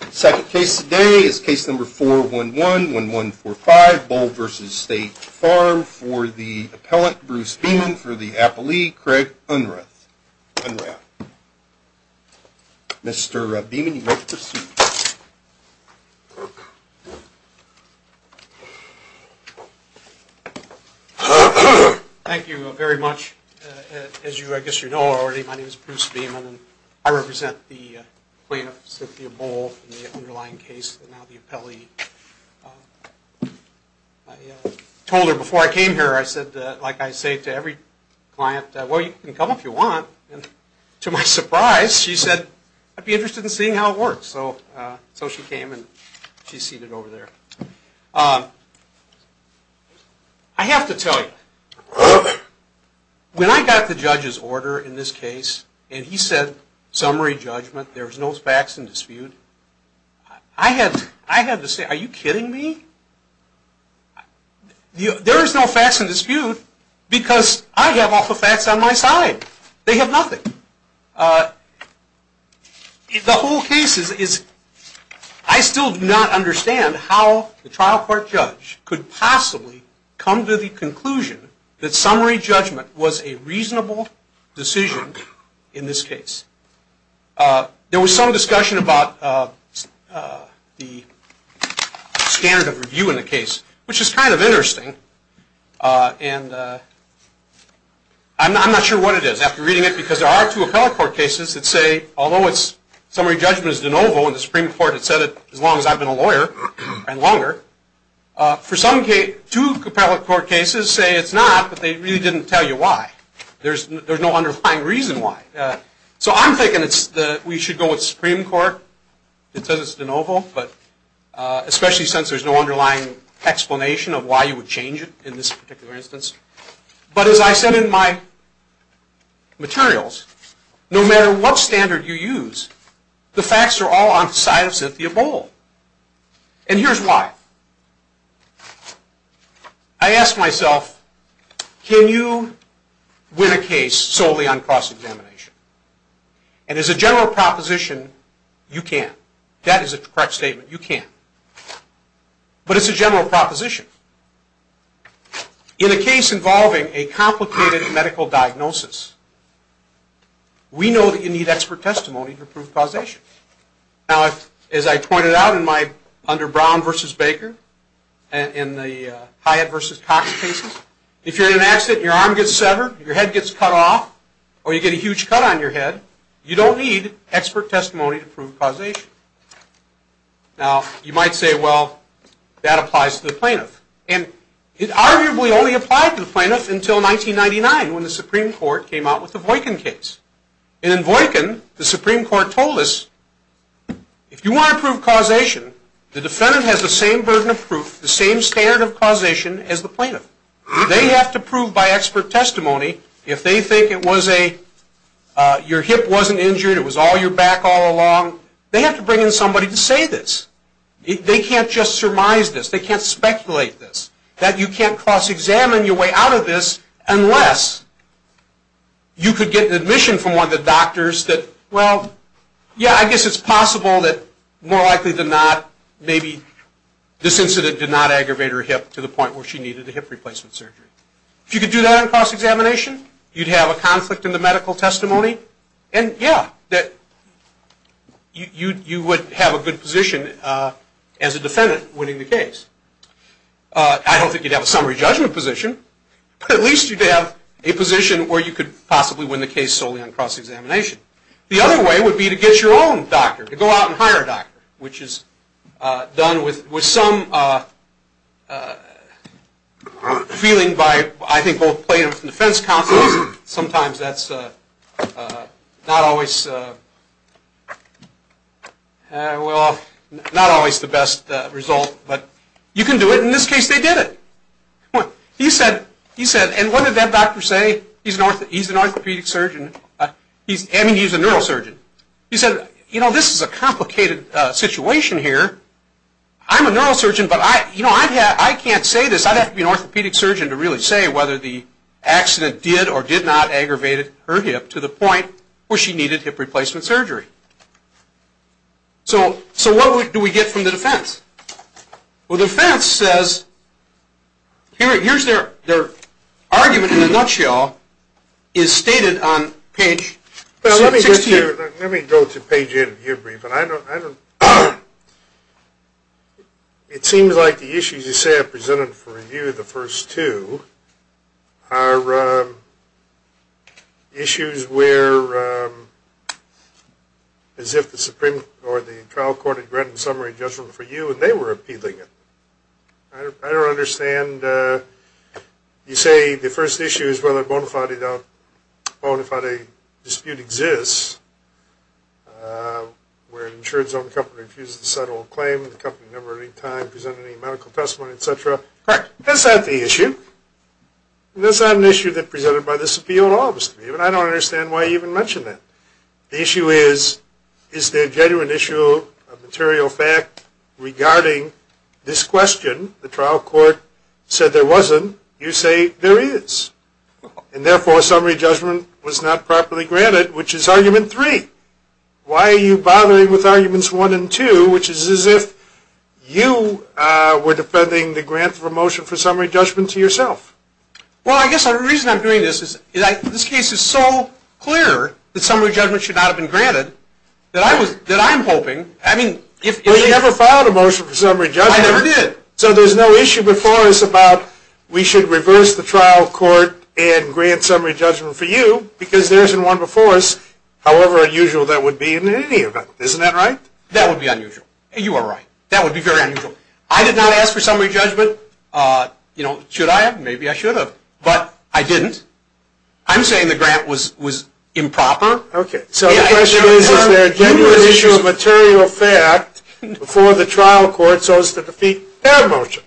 The second case today is case number 411-1145, Bohl v. State Farm, for the appellant Bruce Beeman for the appellee, Craig Unrath. Mr. Beeman, you may proceed. Thank you very much. As I guess you know already, my name is Bruce Beeman, and I represent the plaintiff, Cynthia Bohl, in the underlying case, and now the appellee. I told her before I came here, I said, like I say to every client, well, you can come if you want. And to my surprise, she said, I'd be interested in seeing how it works. So she came, and she's seated over there. I have to tell you, when I got the judge's order in this case, and he said, summary judgment, there's no facts in dispute, I had to say, are you kidding me? There's no facts in dispute, because I have all the facts on my side. They have nothing. The whole case is, I still do not understand how the trial court judge could possibly come to the conclusion that summary judgment was a reasonable decision in this case. There was some discussion about the standard of review in the case, which is kind of interesting. And I'm not sure what it is, after reading it, because there are two appellate court cases that say, although it's summary judgment is de novo, and the Supreme Court had said it as long as I've been a lawyer, and longer, for some cases, two appellate court cases say it's not, but they really didn't tell you why. There's no underlying reason why. So I'm thinking we should go with the Supreme Court that says it's de novo, but especially since there's no underlying explanation of why you would change it in this particular instance. But as I said in my materials, no matter what standard you use, the facts are all on the side of Cynthia Bohl. And here's why. I ask myself, can you win a case solely on cross-examination? And as a general proposition, you can. That is a correct statement. You can. But it's a general proposition. In a case involving a complicated medical diagnosis, we know that you need expert testimony to prove causation. As I pointed out under Brown v. Baker, in the Hyatt v. Cox cases, if you're in an accident and your arm gets severed, your head gets cut off, or you get a huge cut on your head, you don't need expert testimony to prove causation. Now you might say, well, that applies to the plaintiff. And it arguably only applied to the plaintiff until 1999, when the Supreme Court came out with the Voykin case. And in Voykin, the Supreme Court told us, if you want to prove causation, the defendant has the same burden of proof, the same standard of causation as the plaintiff. They have to prove by expert testimony. If they think it was a, your hip wasn't injured, it was all your back all along, they have to bring in somebody to say this. They can't just surmise this. They can't speculate this. That you can't cross-examine your way out of this unless you could get admission from one of the doctors that, well, yeah, I guess it's possible that more likely than not, maybe this incident did not aggravate her hip to the point where she needed a hip replacement surgery. If you could do that on cross-examination, you'd have a conflict in the medical testimony. And yeah, you would have a good position as a defendant winning the case. I don't think you'd have a summary judgment position, but at least you'd have a position where you could possibly win the case solely on cross-examination. The other way would be to get your own doctor, to go out and hire a doctor, which is done with some feeling by, I think, both plaintiffs and defense counsels. Sometimes that's not always, well, not always the best result, but you can do it. In this case, they did it. He said, and what did that doctor say? He's an orthopedic surgeon. I mean, he's a neurosurgeon. He said, you know, this is a complicated situation here. I'm a neurosurgeon, but I can't say this. I'd have to be an orthopedic surgeon to really say whether the accident did or did not aggravate her hip to the point where she needed hip replacement surgery. So what do we get from the defense? Well, the defense says, here's their argument in a nutshell, is stated on page 16. Well, let me go to page 8 of your brief, and I don't, it seems like the issues you say are presented for review, the first two, are issues where, as if the Supreme, or the trial court, had granted summary judgment for you, and they were appealing it. I don't understand. You say the first issue is whether a bona fide dispute exists, where an insurance-owned company refuses to settle a claim, the company never, at any time, presented any medical testimony, et cetera. Correct. That's not the issue. And that's not an issue that presented by this appeal in all of this to me, and I don't understand why you even mention that. The issue is, is there a genuine issue, a material fact, regarding this question? The trial court said there wasn't. You say there is. And therefore, summary judgment was not properly granted, which is argument three. Why are you bothering with arguments one and two, which is as if you were defending the grant for motion for summary judgment to yourself? Well, I guess the reason I'm doing this is, this case is so clear that summary judgment should not have been granted, that I'm hoping, I mean, if it is... Well, you never filed a motion for summary judgment. I never did. So there's no issue before us about, we should reverse the trial court and grant summary judgment for you, because there isn't one before us, however unusual that would be in any event. Isn't that right? That would be unusual. You are right. That would be very unusual. I did not ask for summary judgment. You know, should I have? Maybe I should have. But I didn't. I'm saying the grant was improper. So the question is, is there a genuine issue, a material fact, before the trial court so as to defeat their motion?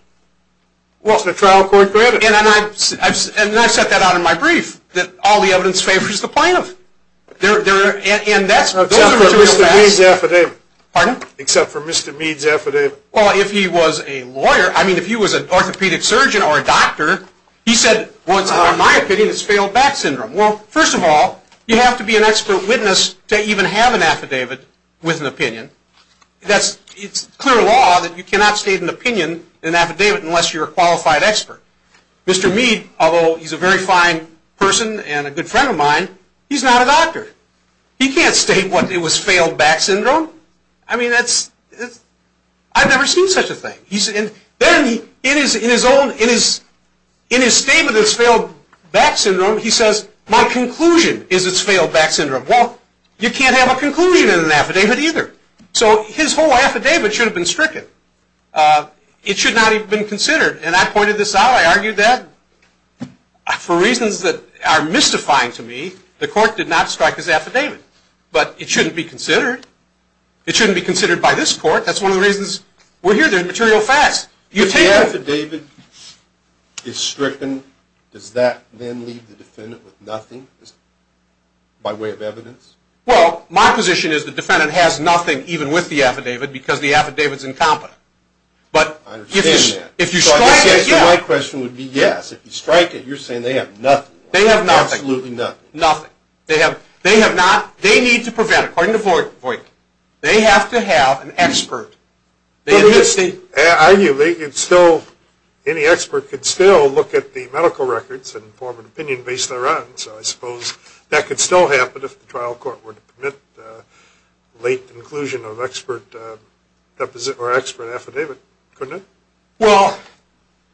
Was the trial court granted? And I've set that out in my brief, that all the evidence favors the plaintiff. And that's... Pardon? Except for Mr. Mead's affidavit. Well, if he was a lawyer, I mean, if he was an orthopedic surgeon or a doctor, he said, in my opinion, it's failed back syndrome. Well, first of all, you have to be an expert witness to even have an affidavit with an opinion. That's... It's clear law that you cannot state an opinion in an affidavit unless you're a qualified expert. Mr. Mead, although he's a very fine person and a good friend of mine, he's not a doctor. He can't state what it was failed back syndrome. I mean, that's... I've never seen such a thing. He's in... Then, in his own, in his statement that it's failed back syndrome, he says, my conclusion is it's failed back syndrome. Well, you can't have a conclusion in an affidavit either. So his whole affidavit should have been stricken. It should not have been considered. And I pointed this out. I argued that for reasons that are mystifying to me, the court did not strike his affidavit. But it shouldn't be considered. It shouldn't be considered by this court. That's one of the reasons we're here. There's material facts. If the affidavit is stricken, does that then leave the defendant with nothing by way of evidence? Well, my position is the defendant has nothing even with the affidavit because the affidavit is incompetent. I understand that. But if you strike it, yeah. So I guess the right question would be, yes, if you strike it, you're saying they have nothing. They have nothing. Absolutely nothing. Nothing. They have not... According to Voigt, they have to have an expert. Arguably, any expert could still look at the medical records and form an opinion based thereon. So I suppose that could still happen if the trial court were to permit late inclusion of expert affidavit, couldn't it? Well,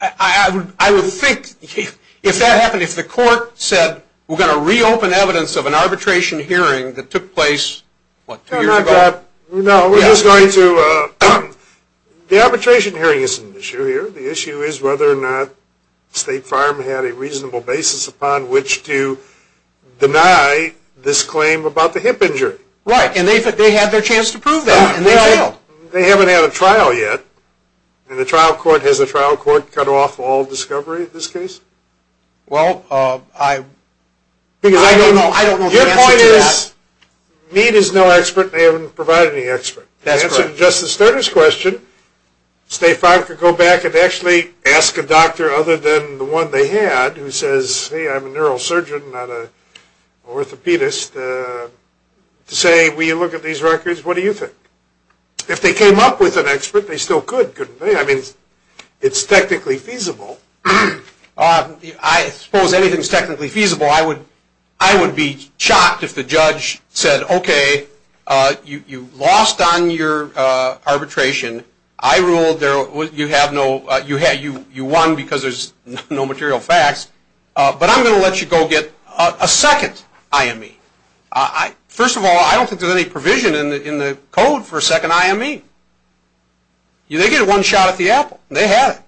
I would think if that happened, if the court said, we're going to reopen evidence of an arbitration hearing that took place, what, two years ago? No, we're just going to... The arbitration hearing isn't an issue here. The issue is whether or not State Farm had a reasonable basis upon which to deny this claim about the hip injury. Right, and they had their chance to prove that, and they failed. They haven't had a trial yet, and the trial court, has the trial court cut off all discovery in this case? Well, I don't know the answer to that. Your point is, Meade is no expert, and they haven't provided any expert. That's correct. To answer Justice Sterner's question, State Farm could go back and actually ask a doctor other than the one they had, who says, hey, I'm a neurosurgeon, not an orthopedist, to say, will you look at these records? What do you think? If they came up with an expert, they still could, couldn't they? I mean, it's technically feasible. I suppose anything is technically feasible. I would be shocked if the judge said, okay, you lost on your arbitration. I ruled you won because there's no material facts, but I'm going to let you go get a second IME. First of all, I don't think there's any provision in the code for a second IME. They get one shot at the apple. They have it.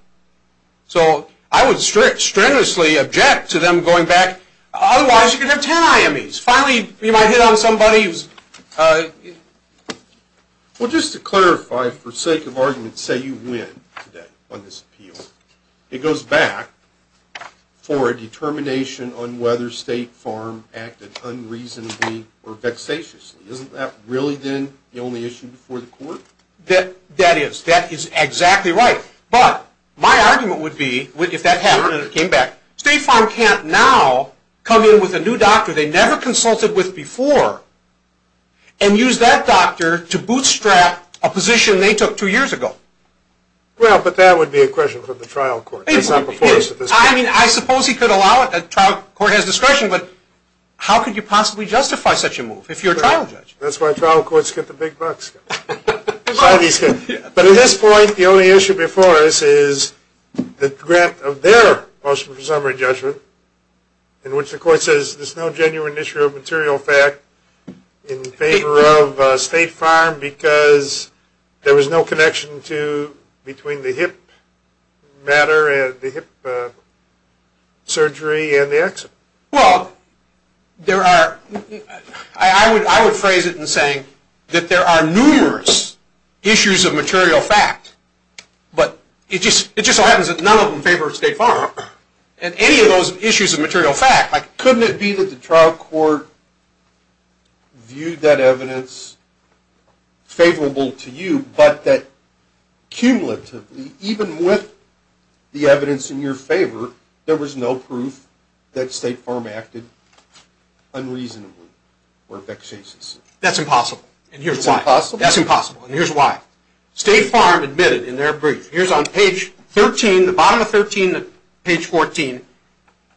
So I would strenuously object to them going back. Otherwise, you could have ten IMEs. Finally, you might hit on somebody who's... Well, just to clarify, for sake of argument, say you win today on this appeal. It goes back for a determination on whether State Farm acted unreasonably or vexatiously. Isn't that really, then, the only issue before the court? That is. That is exactly right. But my argument would be, if that happened and it came back, State Farm can't now come in with a new doctor they never consulted with before and use that doctor to bootstrap a position they took two years ago. Well, but that would be a question for the trial court. It's not before us at this point. I mean, I suppose he could allow it. The trial court has discretion, but how could you possibly justify such a move if you're a trial judge? That's why trial courts get the big bucks. But at this point, the only issue before us is the grant of their motion for summary judgment in which the court says there's no genuine issue of material fact in favor of State Farm because there was no connection between the hip matter and the hip surgery and the accident. Well, I would phrase it in saying that there are numerous issues of material fact, but it just so happens that none of them favor State Farm. And any of those issues of material fact, couldn't it be that the trial court viewed that evidence favorable to you, but that cumulatively, even with the evidence in your favor, there was no proof that State Farm acted unreasonably or vexatiously? That's impossible. And here's why. That's impossible? That's impossible, and here's why. State Farm admitted in their brief. Here's on page 13, the bottom of 13, page 14.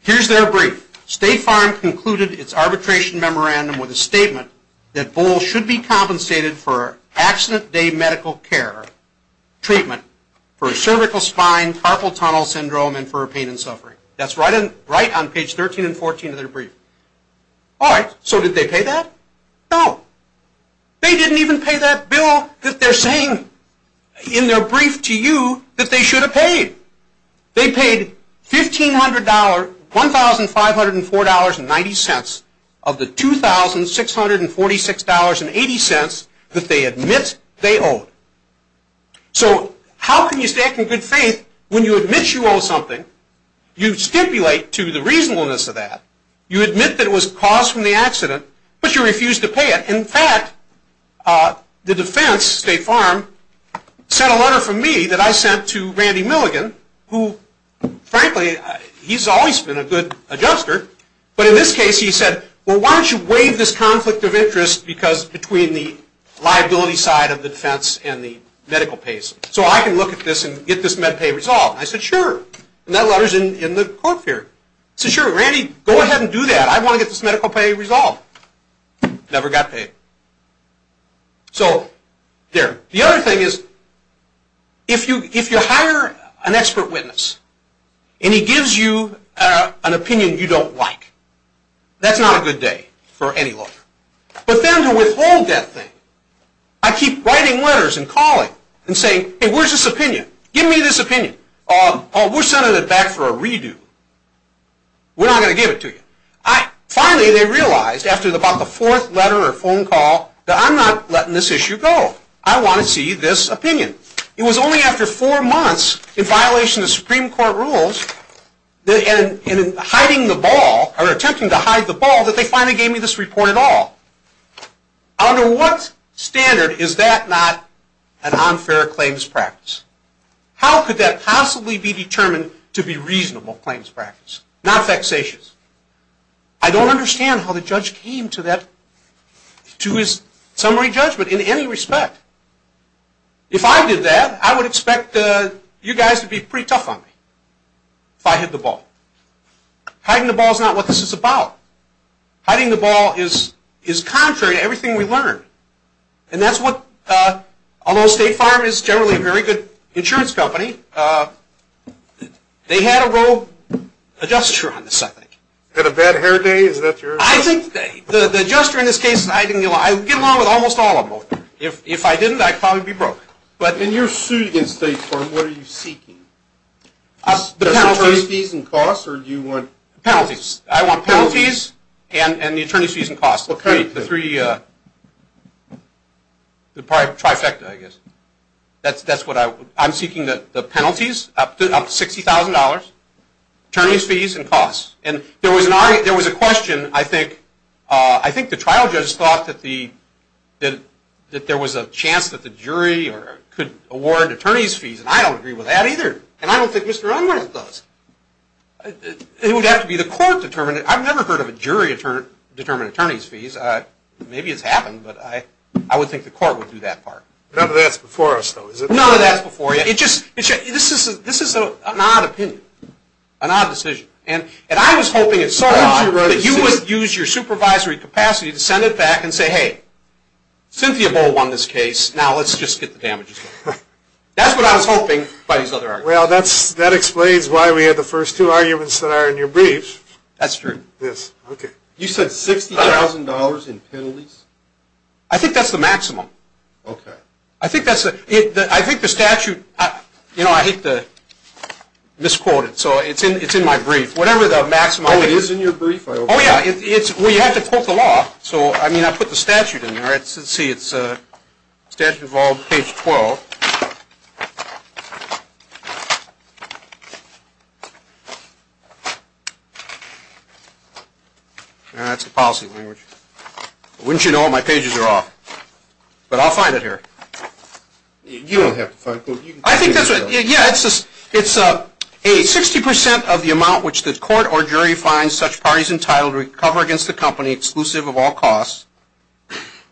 Here's their brief. State Farm concluded its arbitration memorandum with a statement that Bull should be compensated for accident day medical care treatment for cervical spine, carpal tunnel syndrome, and for pain and suffering. That's right on page 13 and 14 of their brief. All right, so did they pay that? No. They didn't even pay that bill that they're saying in their brief to you that they should have paid. They paid $1,500, $1,504.90 of the $2,646.80 that they admit they owed. So how can you stand in good faith when you admit you owe something, you stipulate to the reasonableness of that, you admit that it was caused from the accident, but you refuse to pay it? In fact, the defense, State Farm, sent a letter from me that I sent to Randy Milligan, who, frankly, he's always been a good adjuster, but in this case he said, well, why don't you waive this conflict of interest between the liability side of the defense and the medical pays so I can look at this and get this med pay resolved. I said, sure, and that letter's in the court here. I said, sure, Randy, go ahead and do that. I want to get this medical pay resolved. Never got paid. So there. The other thing is if you hire an expert witness and he gives you an opinion you don't like, that's not a good day for any lawyer. But then to withhold that thing, I keep writing letters and calling and saying, hey, where's this opinion? Give me this opinion. We're sending it back for a redo. We're not going to give it to you. Finally they realized after about the fourth letter or phone call that I'm not letting this issue go. I want to see this opinion. It was only after four months in violation of Supreme Court rules and in hiding the ball or attempting to hide the ball that they finally gave me this report at all. Under what standard is that not an unfair claims practice? How could that possibly be determined to be reasonable claims practice, not vexatious? I don't understand how the judge came to his summary judgment in any respect. If I did that, I would expect you guys to be pretty tough on me if I hid the ball. Hiding the ball is not what this is about. Hiding the ball is contrary to everything we learned. And that's what, although State Farm is generally a very good insurance company, they had a real adjuster on this, I think. Had a bad hair day? I think the adjuster in this case is hiding the ball. I'd get along with almost all of them. If I didn't, I'd probably be broke. In your suit against State Farm, what are you seeking? The penalties? The attorney's fees and costs, or do you want... Penalties. I want penalties and the attorney's fees and costs, the three trifecta, I guess. I'm seeking the penalties up to $60,000, attorney's fees and costs. And there was a question, I think the trial judge thought that there was a chance that the jury could award attorney's fees, and I don't agree with that either. And I don't think Mr. Unworth does. It would have to be the court determining it. I've never heard of a jury determining attorney's fees. Maybe it's happened, but I would think the court would do that part. None of that's before us, though, is it? None of that's before you. This is an odd opinion, an odd decision. And I was hoping it so odd that you would use your supervisory capacity to send it back and say, hey, Cynthia Bohl won this case, now let's just get the damages. That's what I was hoping by these other arguments. Well, that explains why we had the first two arguments that are in your briefs. That's true. You said $60,000 in penalties? I think that's the maximum. Okay. I think the statute, you know, I hate to misquote it, so it's in my brief. Whatever the maximum is. Oh, it is in your brief? Oh, yeah. Well, you have to quote the law. So, I mean, I put the statute in there. Let's see. It's statute of all page 12. That's the policy language. Wouldn't you know it? My pages are off. But I'll find it here. You don't have to find it. I think that's right. Yeah, it's a 60% of the amount which the court or jury finds such parties entitled to cover against the company, exclusive of all costs,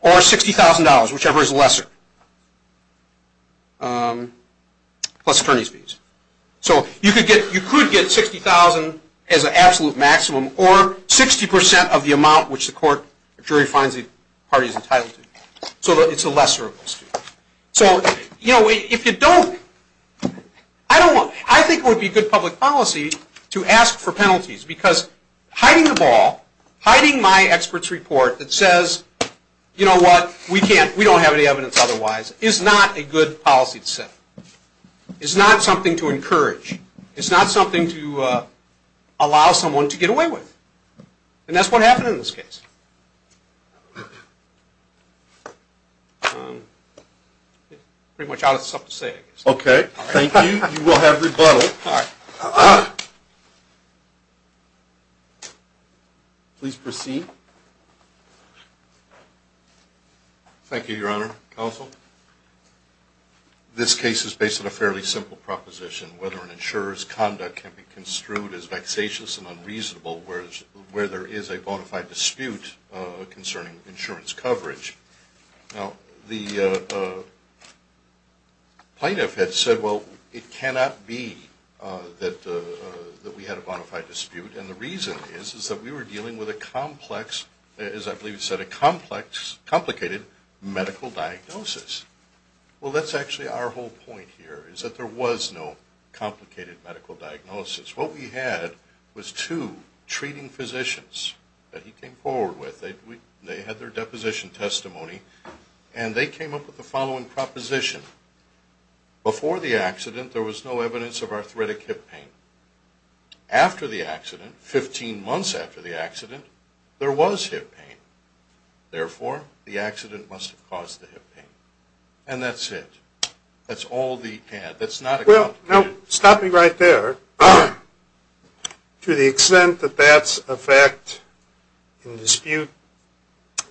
or $60,000, whichever is lesser, plus attorney's fees. So you could get $60,000 as an absolute maximum or 60% of the amount which the court or jury finds the parties entitled to. So it's a lesser of those two. So, you know, if you don't, I think it would be good public policy to ask for penalties because hiding the ball, hiding my expert's report that says, you know what, we don't have any evidence otherwise, is not a good policy to set. It's not something to encourage. It's not something to allow someone to get away with. And that's what happened in this case. Pretty much all that's left to say, I guess. Okay. Thank you. You will have rebuttal. Please proceed. Thank you, Your Honor. Counsel. This case is based on a fairly simple proposition, whether an insurer's conduct can be construed as vexatious and unreasonable where there is a bona fide dispute concerning insurance coverage. Now, the plaintiff had said, well, it cannot be that we had a bona fide dispute. And the reason is, is that we were dealing with a complex, as I believe he said, a complex, complicated medical diagnosis. Well, that's actually our whole point here is that there was no complicated medical diagnosis. What we had was two treating physicians that he came forward with. They had their deposition testimony. And they came up with the following proposition. Before the accident, there was no evidence of arthritic hip pain. After the accident, 15 months after the accident, there was hip pain. Therefore, the accident must have caused the hip pain. And that's it. That's all the ad. That's not a complication. Well, now, stop me right there. To the extent that that's a fact in dispute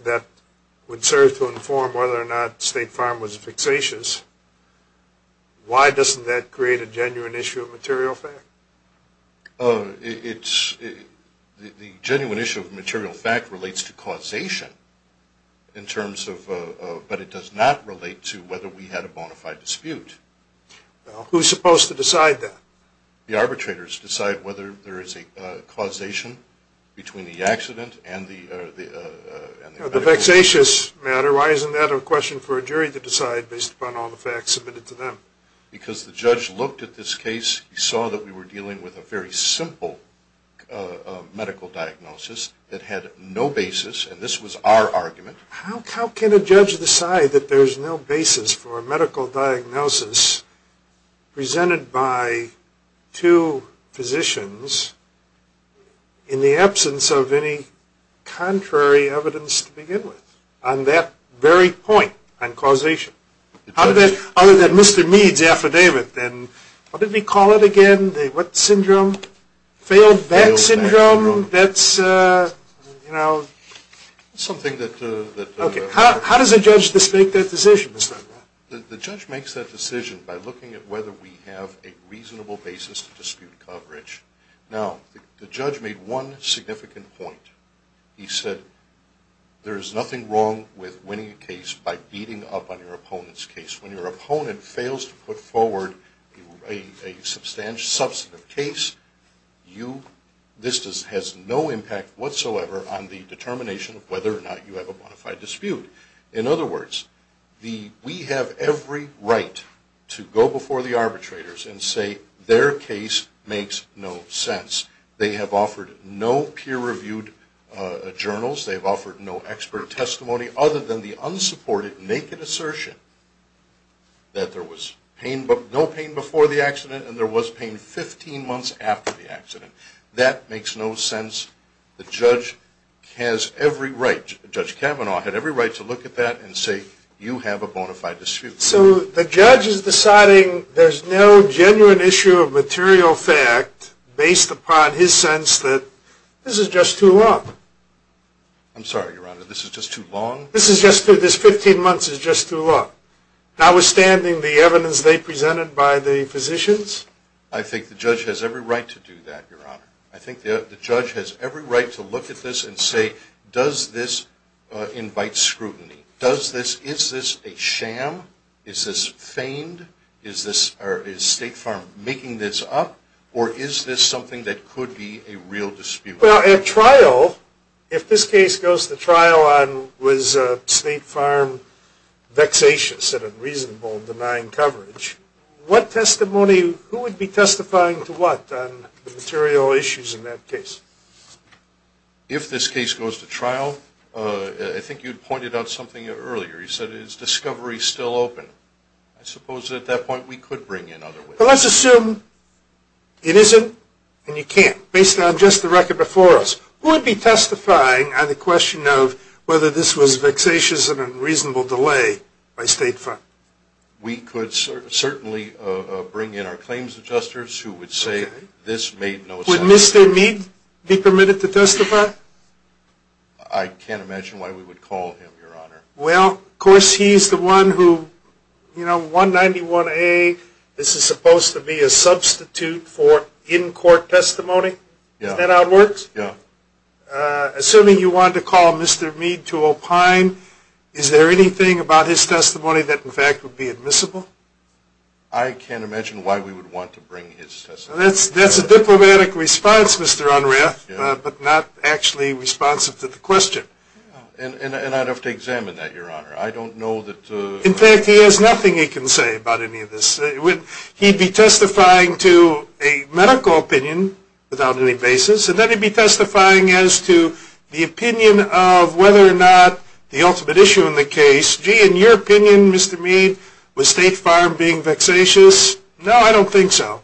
that would serve to inform whether or not State Farm was vexatious, why doesn't that create a genuine issue of material fact? It's the genuine issue of material fact relates to causation in terms of, but it does not relate to whether we had a bona fide dispute. Who's supposed to decide that? The arbitrators decide whether there is a causation between the accident and the medical. On the vexatious matter, why isn't that a question for a jury to decide based upon all the facts submitted to them? Because the judge looked at this case, he saw that we were dealing with a very simple medical diagnosis that had no basis, and this was our argument. How can a judge decide that there's no basis for a medical diagnosis presented by two physicians in the absence of any contrary evidence to begin with on that very point on causation? Other than Mr. Mead's affidavit, then. What did we call it again? What syndrome? Failed Vag Syndrome? That's, you know, something that... Okay. How does a judge make that decision? The judge makes that decision by looking at whether we have a reasonable basis to dispute coverage Now, the judge made one significant point. He said there is nothing wrong with winning a case by beating up on your opponent's case. When your opponent fails to put forward a substantive case, this has no impact whatsoever on the determination of whether or not you have a bona fide dispute. In other words, we have every right to go before the arbitrators and say their case makes no sense. They have offered no peer-reviewed journals. They've offered no expert testimony other than the unsupported naked assertion that there was no pain before the accident and there was pain 15 months after the accident. That makes no sense. The judge has every right, Judge Kavanaugh had every right to look at that and say, you have a bona fide dispute. So the judge is deciding there's no genuine issue of material fact based upon his sense that this is just too long. I'm sorry, Your Honor, this is just too long? This 15 months is just too long. Notwithstanding the evidence they presented by the physicians? I think the judge has every right to do that, Your Honor. I think the judge has every right to look at this and say, does this invite scrutiny? Is this a sham? Is this feigned? Is State Farm making this up? Or is this something that could be a real dispute? Well, at trial, if this case goes to trial on was State Farm vexatious and unreasonable in denying coverage, what testimony, who would be testifying to what on the material issues in that case? If this case goes to trial, I think you'd pointed out something earlier. You said, is discovery still open? I suppose at that point we could bring in other witnesses. Well, let's assume it isn't and you can't, based on just the record before us. Who would be testifying on the question of whether this was vexatious and unreasonable delay by State Farm? We could certainly bring in our claims adjusters who would say this made no sense. Would Mr. Mead be permitted to testify? I can't imagine why we would call him, Your Honor. Well, of course, he's the one who, you know, 191A, this is supposed to be a substitute for in-court testimony. Is that how it works? Yeah. Assuming you wanted to call Mr. Mead to opine, is there anything about his testimony that, in fact, would be admissible? I can't imagine why we would want to bring his testimony. That's a diplomatic response, Mr. Unruh, but not actually responsive to the question. And I'd have to examine that, Your Honor. I don't know that the ---- In fact, he has nothing he can say about any of this. He'd be testifying to a medical opinion without any basis, and then he'd be testifying as to the opinion of whether or not the ultimate issue in the case. Gee, in your opinion, Mr. Mead, was State Farm being vexatious? No, I don't think so.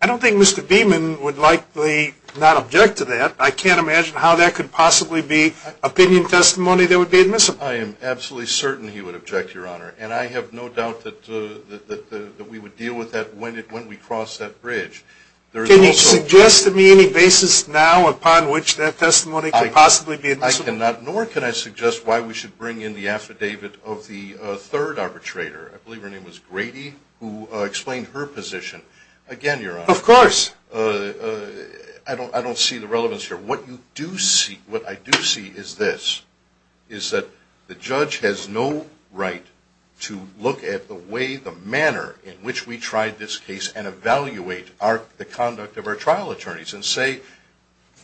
I don't think Mr. Beeman would likely not object to that. I can't imagine how that could possibly be opinion testimony that would be admissible. I am absolutely certain he would object, Your Honor, and I have no doubt that we would deal with that when we cross that bridge. Can you suggest to me any basis now upon which that testimony could possibly be admissible? I cannot, nor can I suggest why we should bring in the affidavit of the third arbitrator. I believe her name was Grady, who explained her position. Again, Your Honor. Of course. I don't see the relevance here. What I do see is this, is that the judge has no right to look at the way, the manner in which we tried this case and evaluate the conduct of our trial attorneys and say,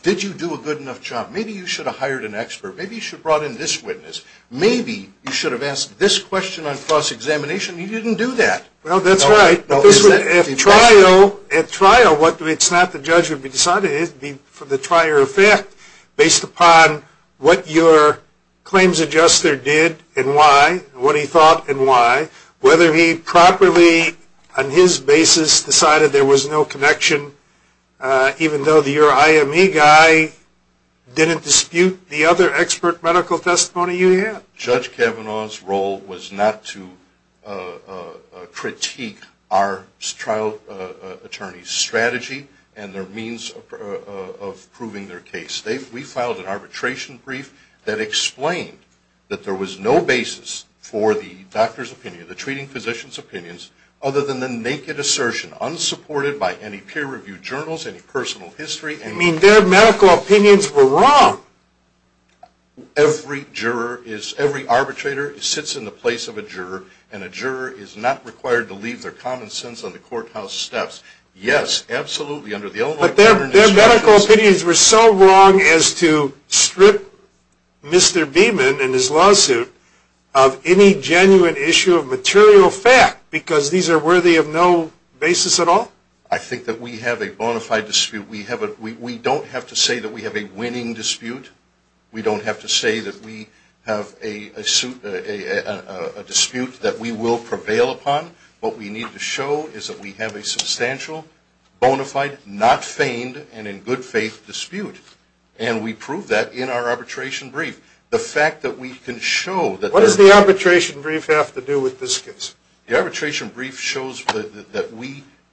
did you do a good enough job? Maybe you should have hired an expert. Maybe you should have brought in this witness. Maybe you should have asked this question on cross-examination. He didn't do that. Well, that's right. At trial, it's not the judge who would decide it. It would be for the trier effect based upon what your claims adjuster did and why, what he thought and why, whether he properly, on his basis, decided there was no connection, even though your IME guy didn't dispute the other expert medical testimony you had. Judge Kavanaugh's role was not to critique our trial attorney's strategy and their means of proving their case. We filed an arbitration brief that explained that there was no basis for the doctor's opinion, the treating physician's opinions, other than the naked assertion, unsupported by any peer-reviewed journals, any personal history. You mean their medical opinions were wrong? Every arbitrator sits in the place of a juror, and a juror is not required to leave their common sense on the courthouse steps. Yes, absolutely. But their medical opinions were so wrong as to strip Mr. Beeman and his lawsuit of any genuine issue of material fact, because these are worthy of no basis at all? I think that we have a bona fide dispute. We don't have to say that we have a winning dispute. We don't have to say that we have a dispute that we will prevail upon. What we need to show is that we have a substantial, bona fide, not feigned, and in good faith dispute. And we prove that in our arbitration brief. What does the arbitration brief have to do with this case? The arbitration brief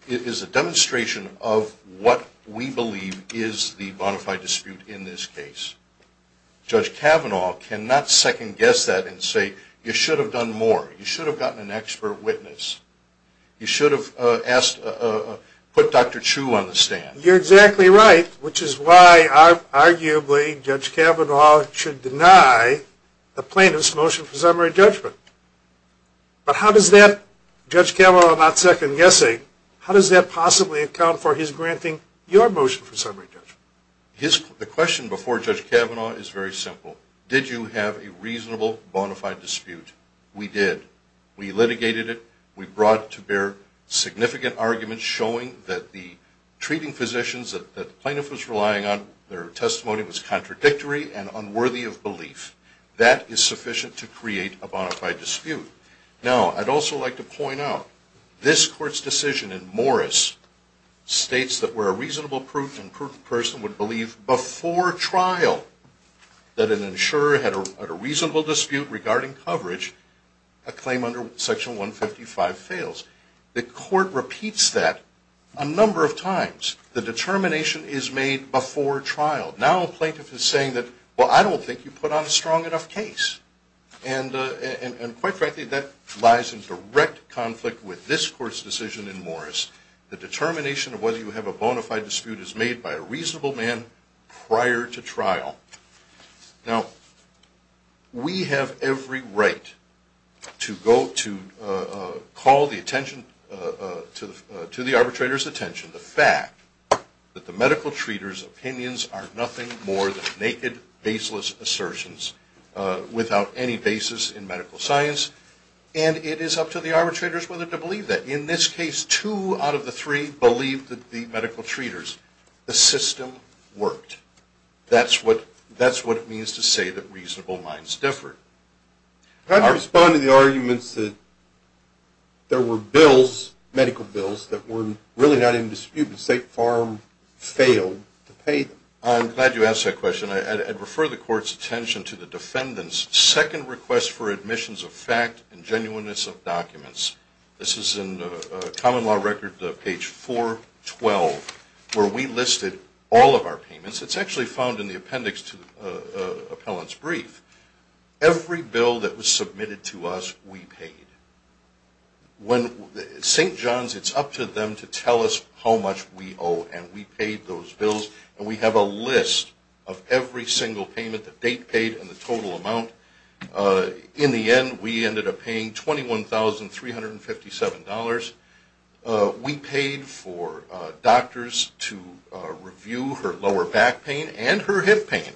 is a demonstration of what we believe is the bona fide dispute in this case. Judge Kavanaugh cannot second-guess that and say, you should have done more, you should have gotten an expert witness, you should have put Dr. Chu on the stand. You're exactly right, which is why arguably Judge Kavanaugh should deny the plaintiff's motion for summary judgment. But how does that, Judge Kavanaugh not second-guessing, how does that possibly account for his granting your motion for summary judgment? The question before Judge Kavanaugh is very simple. Did you have a reasonable, bona fide dispute? We did. We litigated it. We brought to bear significant arguments showing that the treating physicians that the plaintiff was relying on, their testimony was contradictory and unworthy of belief. That is sufficient to create a bona fide dispute. Now, I'd also like to point out, this Court's decision in Morris states that where a reasonable and prudent person would believe before trial that an insurer had a reasonable dispute regarding coverage, a claim under Section 155 fails. The Court repeats that a number of times. The determination is made before trial. Now a plaintiff is saying that, well, I don't think you put on a strong enough case. And quite frankly, that lies in direct conflict with this Court's decision in Morris. The determination of whether you have a bona fide dispute is made by a reasonable man prior to trial. Now, we have every right to go to call the attention, to the arbitrator's attention, the fact that the medical treaters' opinions are nothing more than naked, baseless assertions without any basis in medical science. And it is up to the arbitrators whether to believe that. In this case, two out of the three believed that the medical treaters. The system worked. That's what it means to say that reasonable minds differ. Could I respond to the arguments that there were bills, medical bills, that were really not in dispute, but State Farm failed to pay them? I'm glad you asked that question. I'd refer the Court's attention to the defendant's second request for admissions of fact and genuineness of documents. This is in Common Law Record, page 412, where we listed all of our payments. It's actually found in the appendix to the appellant's brief. Every bill that was submitted to us, we paid. St. John's, it's up to them to tell us how much we owe, and we paid those bills. And we have a list of every single payment, the date paid and the total amount. In the end, we ended up paying $21,357. We paid for doctors to review her lower back pain and her hip pain.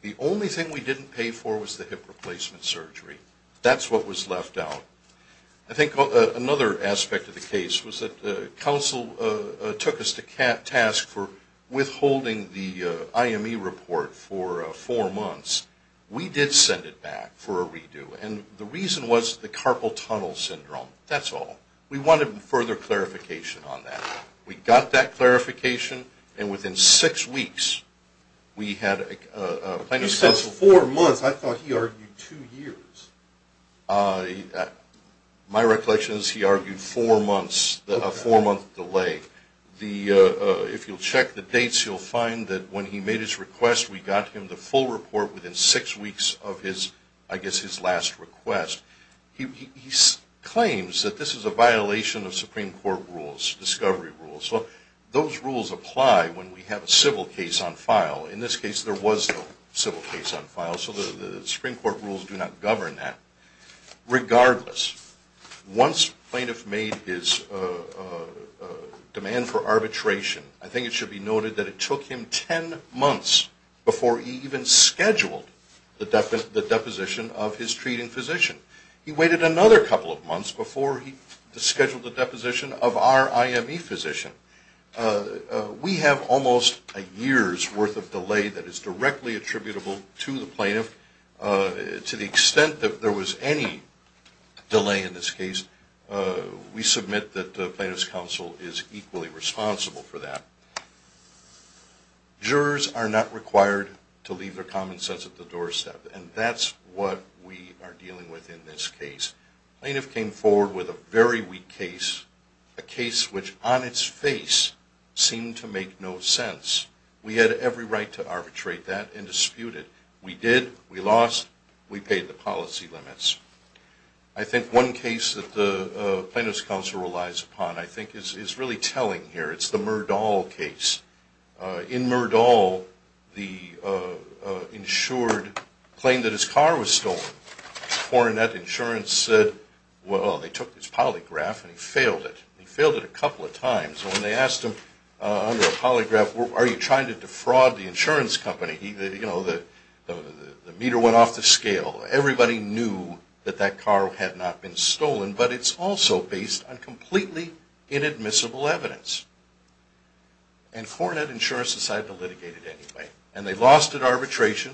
The only thing we didn't pay for was the hip replacement surgery. That's what was left out. I think another aspect of the case was that counsel took us to task for withholding the IME report for four months. We did send it back for a redo, and the reason was the carpal tunnel syndrome. That's all. We wanted further clarification on that. We got that clarification, and within six weeks, we had a plaintiff's counsel. He said four months. I thought he argued two years. My recollection is he argued a four-month delay. If you'll check the dates, you'll find that when he made his request, we got him the full report within six weeks of his last request. He claims that this is a violation of Supreme Court rules, discovery rules. Those rules apply when we have a civil case on file. In this case, there was no civil case on file, so the Supreme Court rules do not govern that. Regardless, once plaintiff made his demand for arbitration, I think it should be noted that it took him ten months before he even scheduled the deposition of his treating physician. He waited another couple of months before he scheduled the deposition of our IME physician. We have almost a year's worth of delay that is directly attributable to the plaintiff. To the extent that there was any delay in this case, we submit that the plaintiff's counsel is equally responsible for that. Jurors are not required to leave their common sense at the doorstep, and that's what we are dealing with in this case. The plaintiff came forward with a very weak case, a case which on its face seemed to make no sense. We had every right to arbitrate that and dispute it. We did, we lost, we paid the policy limits. I think one case that the plaintiff's counsel relies upon, I think, is really telling here. It's the Murdahl case. In Murdahl, the insured claimed that his car was stolen. Foreign Net Insurance said, well, they took his polygraph and he failed it. He failed it a couple of times. When they asked him under a polygraph, are you trying to defraud the insurance company, the meter went off the scale. Everybody knew that that car had not been stolen, but it's also based on completely inadmissible evidence. And Foreign Net Insurance decided to litigate it anyway. And they lost at arbitration,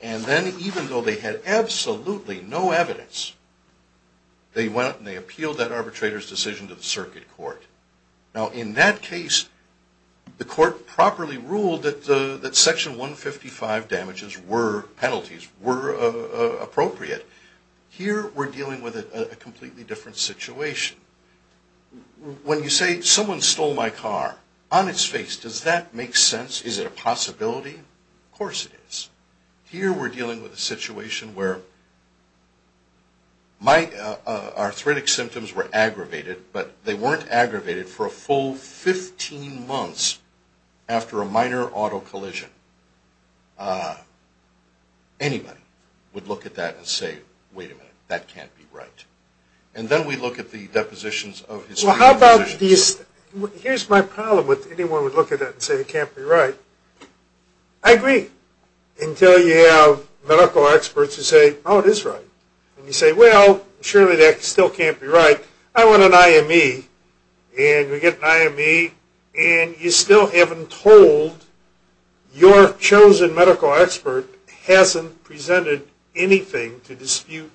and then even though they had absolutely no evidence, they went and they appealed that arbitrator's decision to the circuit court. Now, in that case, the court properly ruled that section 155 damages were penalties, were appropriate. Here, we're dealing with a completely different situation. When you say, someone stole my car, on its face, does that make sense? Is it a possibility? Of course it is. Here, we're dealing with a situation where my arthritic symptoms were aggravated, but they weren't aggravated for a full 15 months after a minor auto collision. Anybody would look at that and say, wait a minute, that can't be right. And then we look at the depositions of history. Here's my problem with anyone would look at that and say it can't be right. I agree, until you have medical experts who say, oh, it is right. And you say, well, surely that still can't be right. I want an IME, and we get an IME, and you still haven't told your chosen medical expert hasn't presented anything to dispute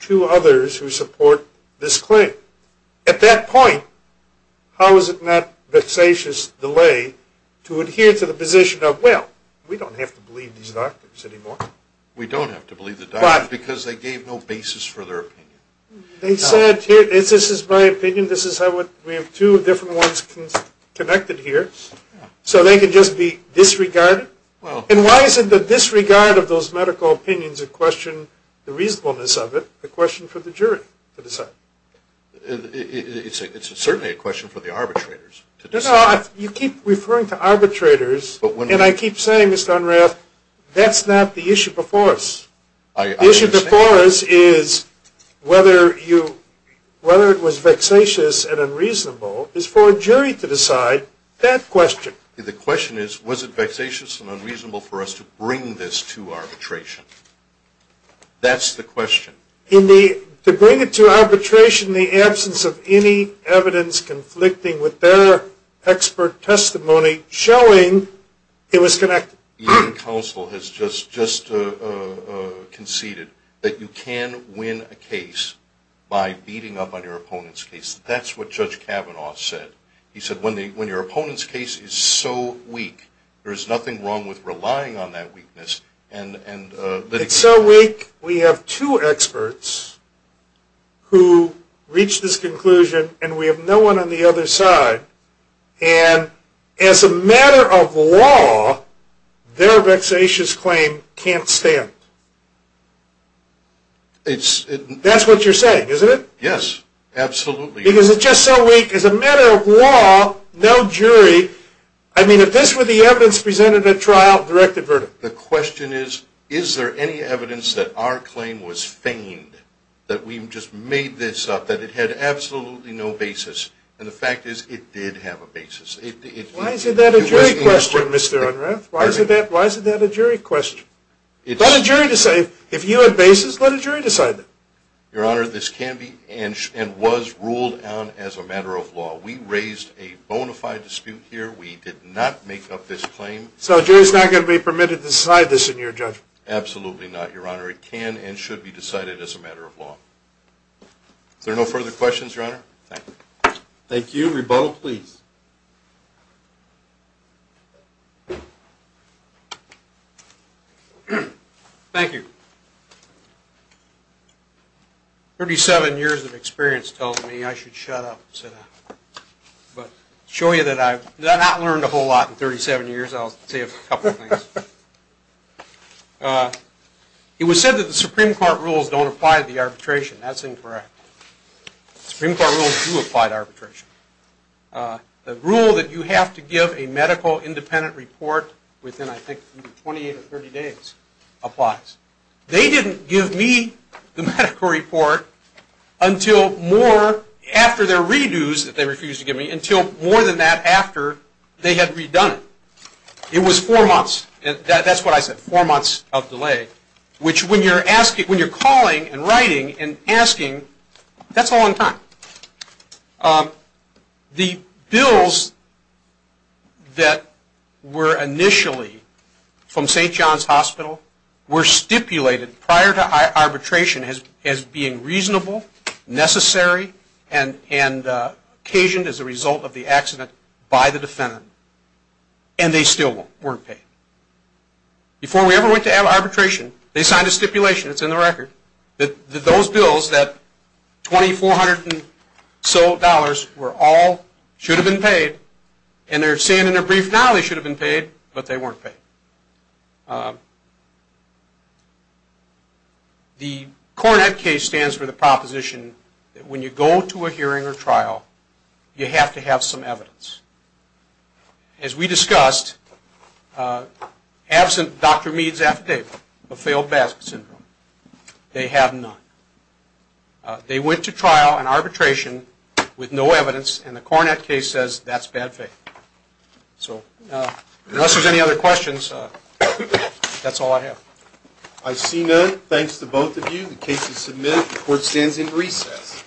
to others who support this claim. At that point, how is it not vexatious delay to adhere to the position of, well, we don't have to believe these doctors anymore. We don't have to believe the doctors because they gave no basis for their opinion. They said, here, this is my opinion. We have two different ones connected here. So they can just be disregarded. And why is it the disregard of those medical opinions that question the reasonableness of it a question for the jury to decide? It's certainly a question for the arbitrators to decide. No, no, you keep referring to arbitrators, and I keep saying, Mr. Unrath, that's not the issue before us. The issue before us is whether it was vexatious and unreasonable is for a jury to decide that question. The question is, was it vexatious and unreasonable for us to bring this to arbitration? That's the question. To bring it to arbitration in the absence of any evidence conflicting with their expert testimony showing it was connected. Your counsel has just conceded that you can win a case by beating up on your opponent's case. That's what Judge Kavanaugh said. He said when your opponent's case is so weak, there's nothing wrong with relying on that weakness. It's so weak, we have two experts who reach this conclusion, and we have no one on the other side. And as a matter of law, their vexatious claim can't stand. That's what you're saying, isn't it? Yes, absolutely. Because it's just so weak. As a matter of law, no jury. I mean, if this were the evidence presented at trial, direct the verdict. The question is, is there any evidence that our claim was feigned, that we just made this up, that it had absolutely no basis? And the fact is, it did have a basis. Why is that a jury question, Mr. Unrath? Why is that a jury question? Let a jury decide. If you had basis, let a jury decide that. Your Honor, this can be and was ruled on as a matter of law. We raised a bona fide dispute here. We did not make up this claim. So a jury's not going to be permitted to decide this in your judgment? Absolutely not, Your Honor. It can and should be decided as a matter of law. Is there no further questions, Your Honor? Thank you. Thank you. Rebuttal, please. Thank you. Thirty-seven years of experience tells me I should shut up. But to show you that I've not learned a whole lot in 37 years, I'll say a couple of things. It was said that the Supreme Court rules don't apply to the arbitration. That's incorrect. The Supreme Court rules do apply to arbitration. The rule that you have to give a medical independent report within, I think, 28 or 30 days applies. They didn't give me the medical report until more, after their redos that they refused to give me, until more than that after they had redone it. It was four months. That's what I said, four months of delay, which when you're calling and writing and asking, that's a long time. The bills that were initially from St. John's Hospital were stipulated prior to arbitration as being reasonable, necessary, and occasioned as a result of the accident by the defendant, and they still weren't paid. Before we ever went to arbitration, they signed a stipulation, it's in the record, that those bills, that $2,400 and so dollars were all, should have been paid, and they're saying in their brief now they should have been paid, but they weren't paid. The Coronet case stands for the proposition that when you go to a hearing or trial, you have to have some evidence. As we discussed, absent Dr. Meade's affidavit of failed BASC syndrome, they have none. They went to trial and arbitration with no evidence, and the Coronet case says that's bad faith. So unless there's any other questions, that's all I have. I see none. Thanks to both of you. The case is submitted. The court stands in recess.